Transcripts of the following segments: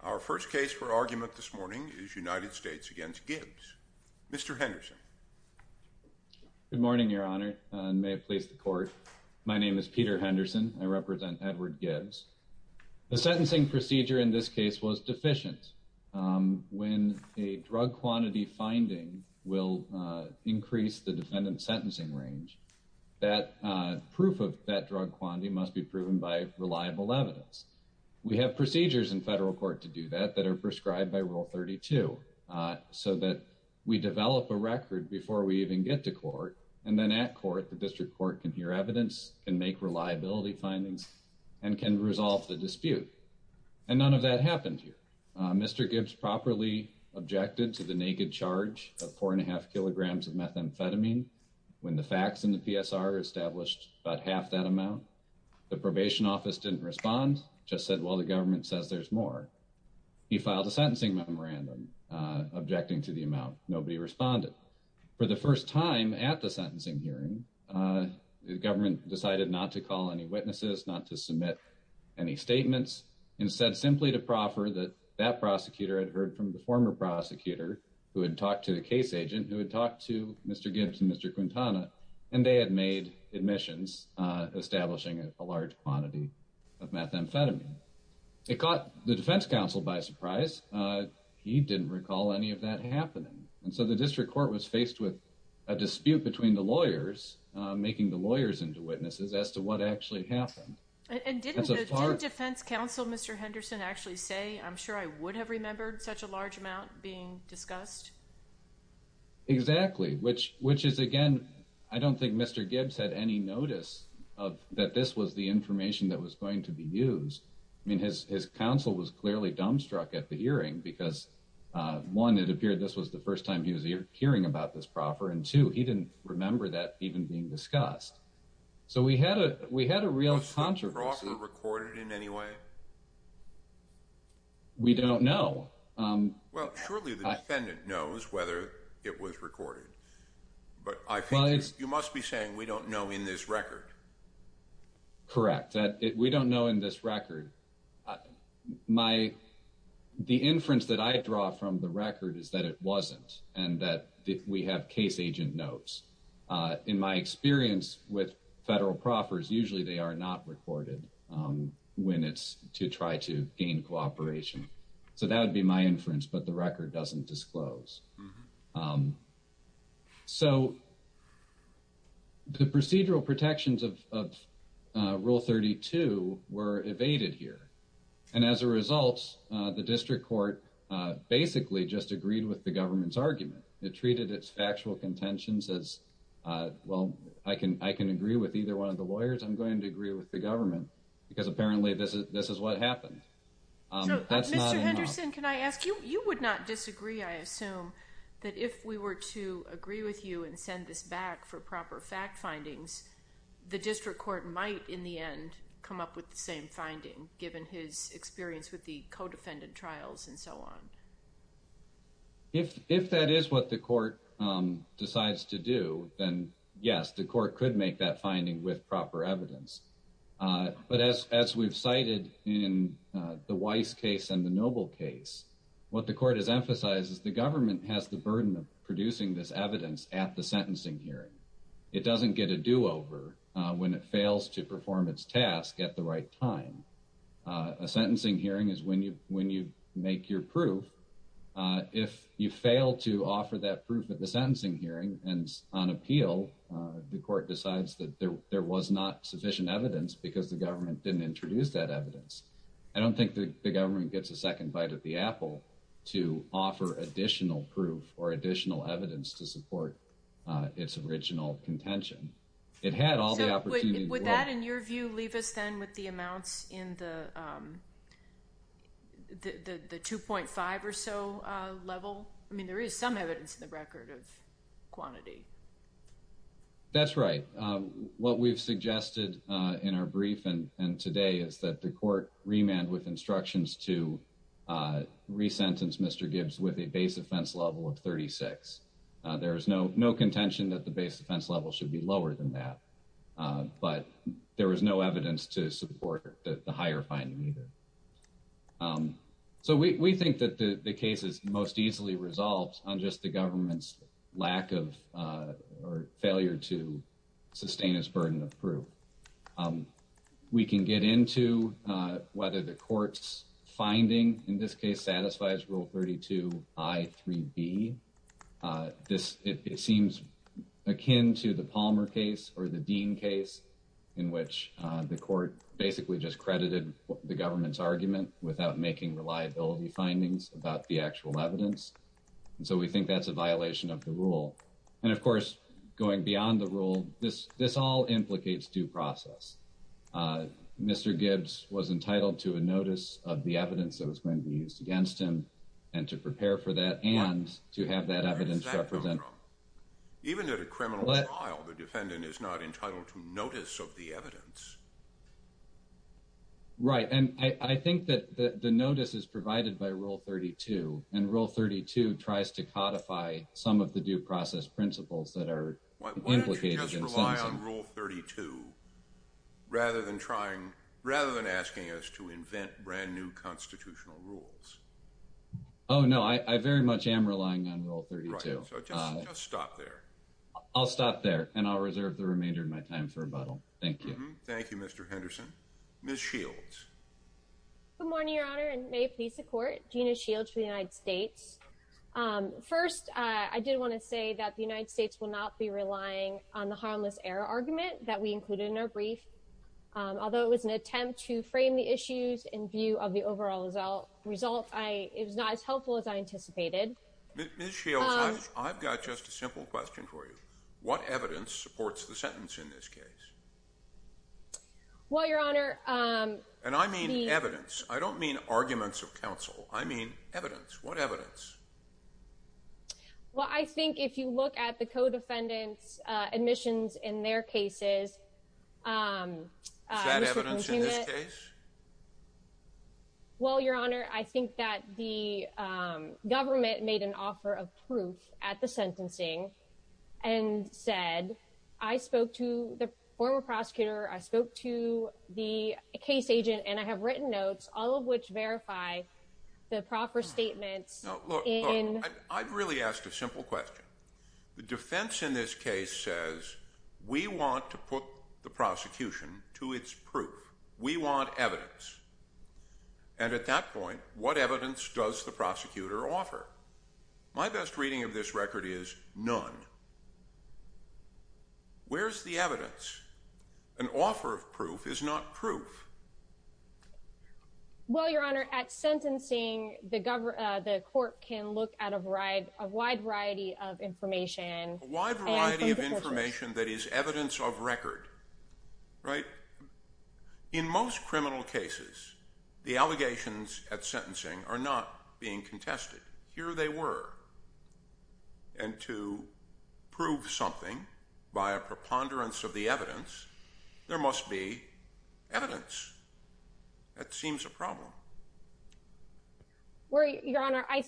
Our first case for argument this morning is United States v. Gibbs. Mr. Henderson. Good morning, Your Honor, and may it please the Court. My name is Peter Henderson. I represent Edward Gibbs. The sentencing procedure in this case was deficient. When a drug quantity finding will increase the defendant's sentencing range, that proof of that drug quantity must be proven by reliable evidence. We have procedures in federal court to do that that are prescribed by Rule 32 so that we develop a record before we even get to court. And then at court, the district court can hear evidence, can make reliability findings, and can resolve the dispute. And none of that happened here. Mr. Gibbs properly objected to the naked charge of four and a half kilograms of methamphetamine when the facts in the PSR established about half that amount. The probation office didn't respond, just said, well, the government says there's more. He filed a sentencing memorandum objecting to the amount. Nobody responded. For the first time at the sentencing hearing, the government decided not to call any witnesses, not to submit any statements, and said simply to proffer that that prosecutor had heard from the former prosecutor who had talked to the case agent, who had talked to Mr. Gibbs and Mr. Quintana, and they had made admissions establishing a large quantity of methamphetamine. It caught the defense counsel by surprise. He didn't recall any of that happening. And so the district court was faced with a dispute between the lawyers, making the lawyers into witnesses, as to what actually happened. And didn't the defense counsel, Mr. Henderson, actually say, I'm sure I would have remembered such a large amount being discussed? Exactly, which is, again, I don't think Mr. Gibbs had any notice of that this was the information that was going to be used. I mean, his counsel was clearly dumbstruck at the hearing because, one, it appeared this was the first time he was hearing about this proffer, and two, he didn't remember that even being discussed. So we had a real controversy. Was the proffer recorded in any way? We don't know. Well, surely the defendant knows whether it was recorded, but I think you must be saying we don't know in this record. Correct. We don't know in this record. The inference that I draw from the record is that it wasn't, and that we have case agent notes. In my experience with federal proffers, usually they are not recorded when it's to try to gain cooperation. So that would be my inference, but the record doesn't disclose. So the procedural protections of Rule 32 were evaded here, and as a result, the district court basically just agreed with the government's argument. It treated its lawyers. I'm going to agree with the government because apparently this is what happened. Mr. Henderson, can I ask you? You would not disagree, I assume, that if we were to agree with you and send this back for proper fact findings, the district court might in the end come up with the same finding, given his experience with the co-defendant trials and so on. If that is what the court decides to do, then yes, the court could make that finding with proper evidence. But as we've cited in the Weiss case and the Noble case, what the court has emphasized is the government has the burden of producing this evidence at the sentencing hearing. It doesn't get a do-over when it fails to perform its task at the right time. A sentencing hearing is when you make your proof. If you fail to offer that proof at the sentencing hearing and on appeal, the court decides that there was not sufficient evidence because the government didn't introduce that evidence. I don't think the government gets a second bite of the apple to offer additional proof or additional evidence to support its original contention. It had all the opportunity— In your view, does that leave us with the amounts in the 2.5 or so level? I mean, there is some evidence in the record of quantity. That's right. What we've suggested in our brief and today is that the court remanded with instructions to re-sentence Mr. Gibbs with a base offense level of 36. There is no contention that base offense level should be lower than that, but there was no evidence to support the higher finding either. So we think that the case is most easily resolved on just the government's lack of or failure to sustain its burden of proof. We can get into whether the court's ruling in this case satisfies Rule 32 I.3.B. It seems akin to the Palmer case or the Dean case in which the court basically just credited the government's argument without making reliability findings about the actual evidence. So we think that's a violation of the rule. And of course, going beyond the rule, this all implicates due process. Mr. Gibbs was entitled to a notice of the evidence that was going to be used against him and to prepare for that and to have that evidence represented. Even at a criminal trial, the defendant is not entitled to notice of the evidence. Right, and I think that the notice is provided by Rule 32 and Rule 32 tries to codify some of the due process principles that are implicated. Why don't you just rely on Rule 32 rather than asking us to invent brand new constitutional rules? Oh no, I very much am relying on Rule 32. So just stop there. I'll stop there and I'll reserve the remainder of my time for rebuttal. Thank you. Thank you, Mr. Henderson. Ms. Shields. Good morning, Your Honor, and may it please the Court. Gina Shields for the United States. First, I did want to say that the United States will not be relying on the harmless error argument that we included in our brief. Although it was an attempt to frame the issues in view of the overall result, it was not as helpful as I anticipated. Ms. Shields, I've got just a simple question for you. What evidence supports the sentence in this case? Well, Your Honor... And I mean evidence. I don't mean arguments of counsel. I mean evidence. What evidence? Well, I think if you look at the sentences... Is that evidence in this case? Well, Your Honor, I think that the government made an offer of proof at the sentencing and said, I spoke to the former prosecutor, I spoke to the case agent, and I have written notes, all of which verify the proper statements in... put the prosecution to its proof. We want evidence. And at that point, what evidence does the prosecutor offer? My best reading of this record is none. Where's the evidence? An offer of proof is not proof. Well, Your Honor, at sentencing, the court can look at a wide variety of information that is evidence of record, right? In most criminal cases, the allegations at sentencing are not being contested. Here they were. And to prove something by a preponderance of the evidence, there must be evidence. That seems a problem. Well, Your Honor, I...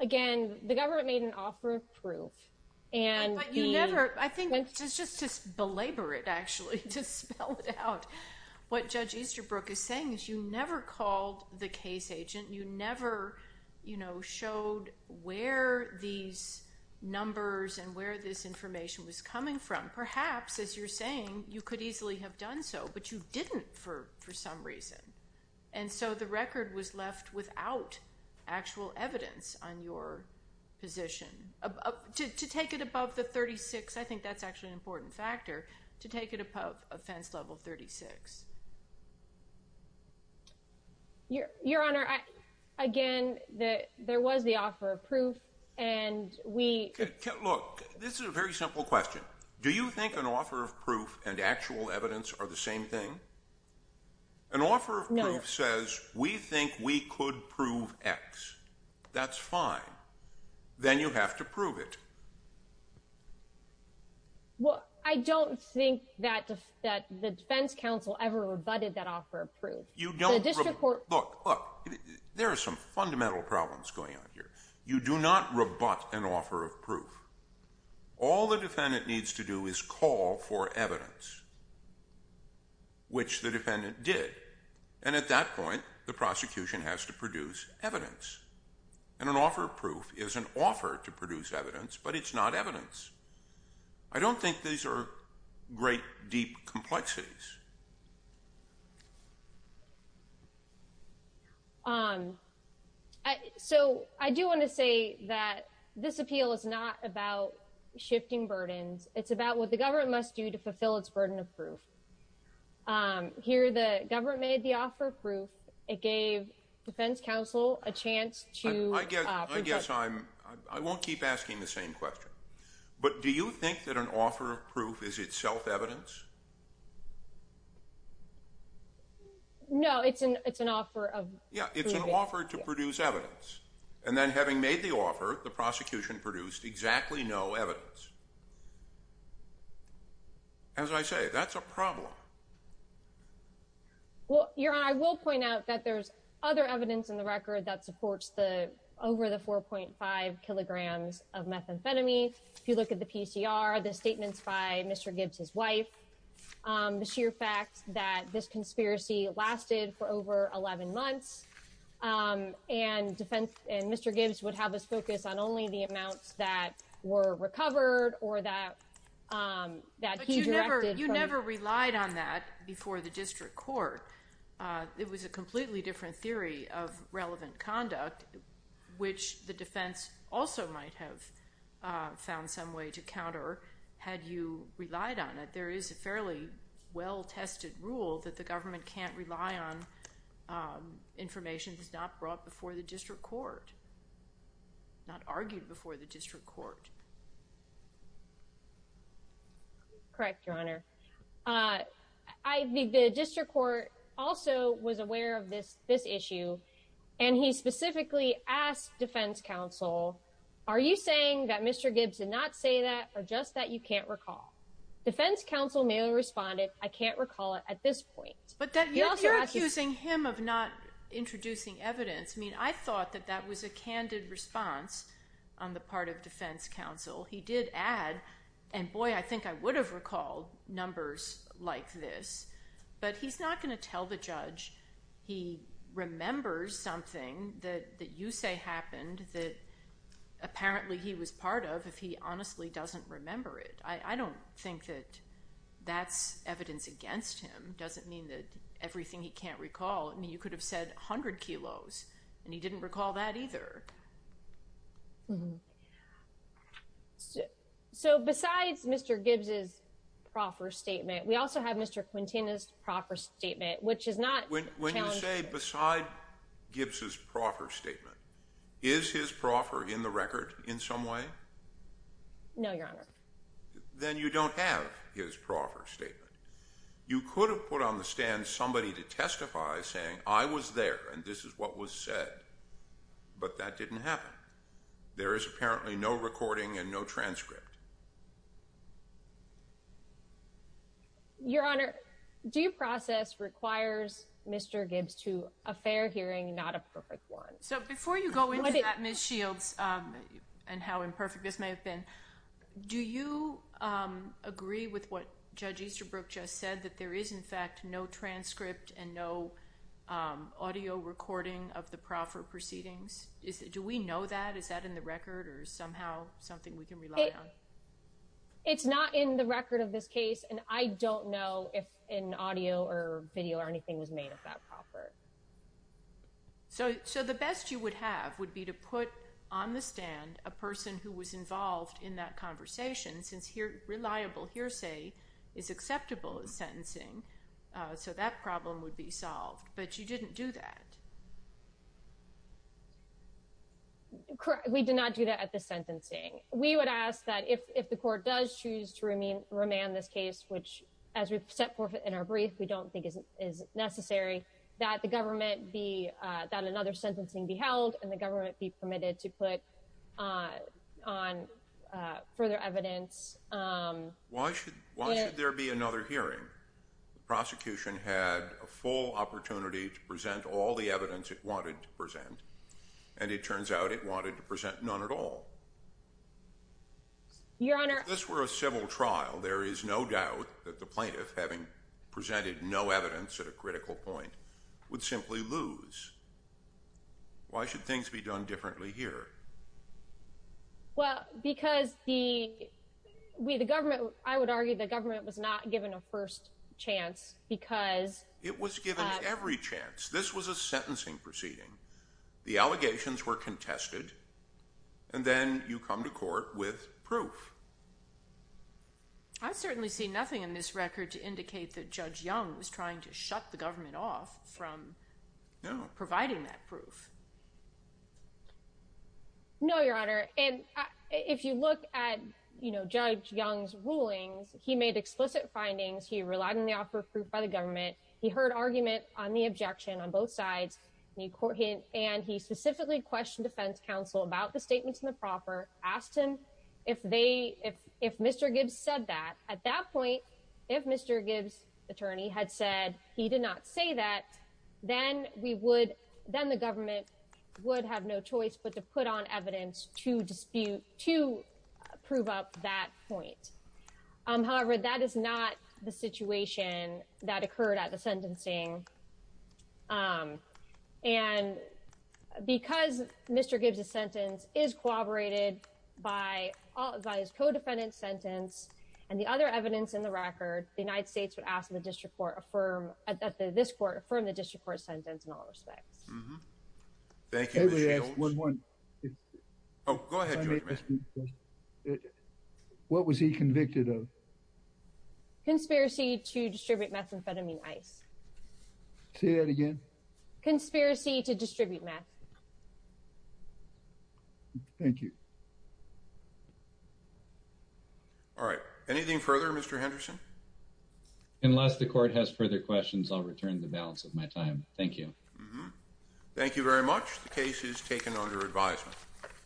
Again, the government made an offer of proof. But you never... I think just to belabor it, actually, to spell it out, what Judge Easterbrook is saying is you never called the case agent, you never showed where these numbers and where this information was coming from. Perhaps, as you're saying, you could easily have done so, but you didn't for some reason. And so the record was position... To take it above the 36, I think that's actually an important factor, to take it above offense level 36. Your Honor, again, there was the offer of proof, and we... Look, this is a very simple question. Do you think an offer of proof and actual evidence are the same thing? An offer of proof says, we think we could prove X. That's fine. Then you have to prove it. Well, I don't think that the defense counsel ever rebutted that offer of proof. You don't... The district court... Look, look, there are some fundamental problems going on here. You do not rebut an offer of proof. All the defendant needs to do is call for evidence, which the defendant did. And at that point, the prosecution has to produce evidence. And an offer of proof is an offer to produce evidence, but it's not evidence. I don't think these are great, deep complexities. So, I do want to say that this appeal is not about shifting burdens. It's about what the government must do to fulfill its burden of proof. Here, the government made the offer of proof. It gave defense counsel a chance to... I guess I'm... I won't keep asking the same question. But do you think that an offer of proof... No, it's an offer of proof. Yeah, it's an offer to produce evidence. And then having made the offer, the prosecution produced exactly no evidence. As I say, that's a problem. Well, Your Honor, I will point out that there's other evidence in the record that supports the... over the 4.5 kilograms of methamphetamine. If you look at the PCR, the statements by Mr. Gibbs' wife, the sheer fact that this conspiracy lasted for over 11 months, and defense... and Mr. Gibbs would have us focus on only the amounts that were recovered or that... But you never relied on that before the district court. It was a completely different theory of relevant conduct, which the defense also might have found some way to counter, had you relied on it. There is a fairly well-tested rule that the government can't rely on information that's not brought before the district court, not argued before the district court. Correct, Your Honor. The district court also was aware of this issue, and he specifically asked defense counsel, are you saying that Mr. Gibbs did not say that, or just that you can't recall? Defense counsel merely responded, I can't recall it at this point. But you're accusing him of not introducing evidence. I mean, I thought that that was a candid response on the part of defense counsel. He did add, and boy, I think I would have recalled numbers like this. But he's not going to tell the judge he remembers something that you say happened that apparently he was part of if he honestly doesn't remember it. I don't think that that's evidence against him. Doesn't mean that everything he can't recall. I mean, you could have said 100 kilos, and he didn't recall that either. So besides Mr. Gibbs's proffer statement, we also have Mr. Quintana's proffer statement, which is not... When you say besides Gibbs's proffer statement, is his proffer in the record in some way? No, Your Honor. Then you don't have his proffer statement. You could have put on the stand somebody to testify saying, I was there, and this is what was said, but that didn't happen. There is apparently no recording and no transcript. Your Honor, due process requires Mr. Gibbs to a fair hearing, not a perfect one. So before you go into that, Ms. Shields, and how imperfect this may have been, do you agree with what Judge Easterbrook just said, that there is, in fact, no transcript and no recording of the proffer proceedings? Do we know that? Is that in the record or somehow something we can rely on? It's not in the record of this case, and I don't know if an audio or video or anything was made of that proffer. So the best you would have would be to put on the stand a person who was involved in that conversation, since reliable hearsay is acceptable sentencing, so that problem would be solved. But you didn't do that. Correct. We did not do that at the sentencing. We would ask that if the court does choose to remand this case, which, as we've set forth in our brief, we don't think is necessary, that the government be, that another sentencing be held and the government be permitted to put on further evidence. Why should there be another hearing? The prosecution had a full opportunity to present all the evidence it wanted to present, and it turns out it wanted to present none at all. Your Honor— If this were a civil trial, there is no doubt that the plaintiff, having presented no evidence at a critical point, would simply lose. Why should things be done differently here? Well, because the, we, the government, I would argue the government was not given a first chance because— It was given every chance. This was a sentencing proceeding. The allegations were contested, and then you come to court with proof. I certainly see nothing in this record to indicate that Judge Young was trying to shut the government off from providing that proof. No, Your Honor, and if you look at, you know, Judge Young's rulings, he made explicit findings. He relied on the offer of proof by the government. He heard argument on the objection on both sides, and he specifically questioned defense counsel about the statements in the proffer, asked him if they, if Mr. Gibbs said that. At that point, if Mr. Gibbs' attorney had said he did not that, then we would, then the government would have no choice but to put on evidence to dispute, to prove up that point. However, that is not the situation that occurred at the sentencing, and because Mr. Gibbs' sentence is corroborated by his co-defendant's sentence and the other from the district court sentence in all respects. What was he convicted of? Conspiracy to distribute methamphetamine ice. Say that again. Conspiracy to distribute meth. Thank you. All right. Anything further, Mr. Henderson? Unless the court has further questions, I'll return the balance of my time. Thank you. Thank you very much. The case is taken under advisement.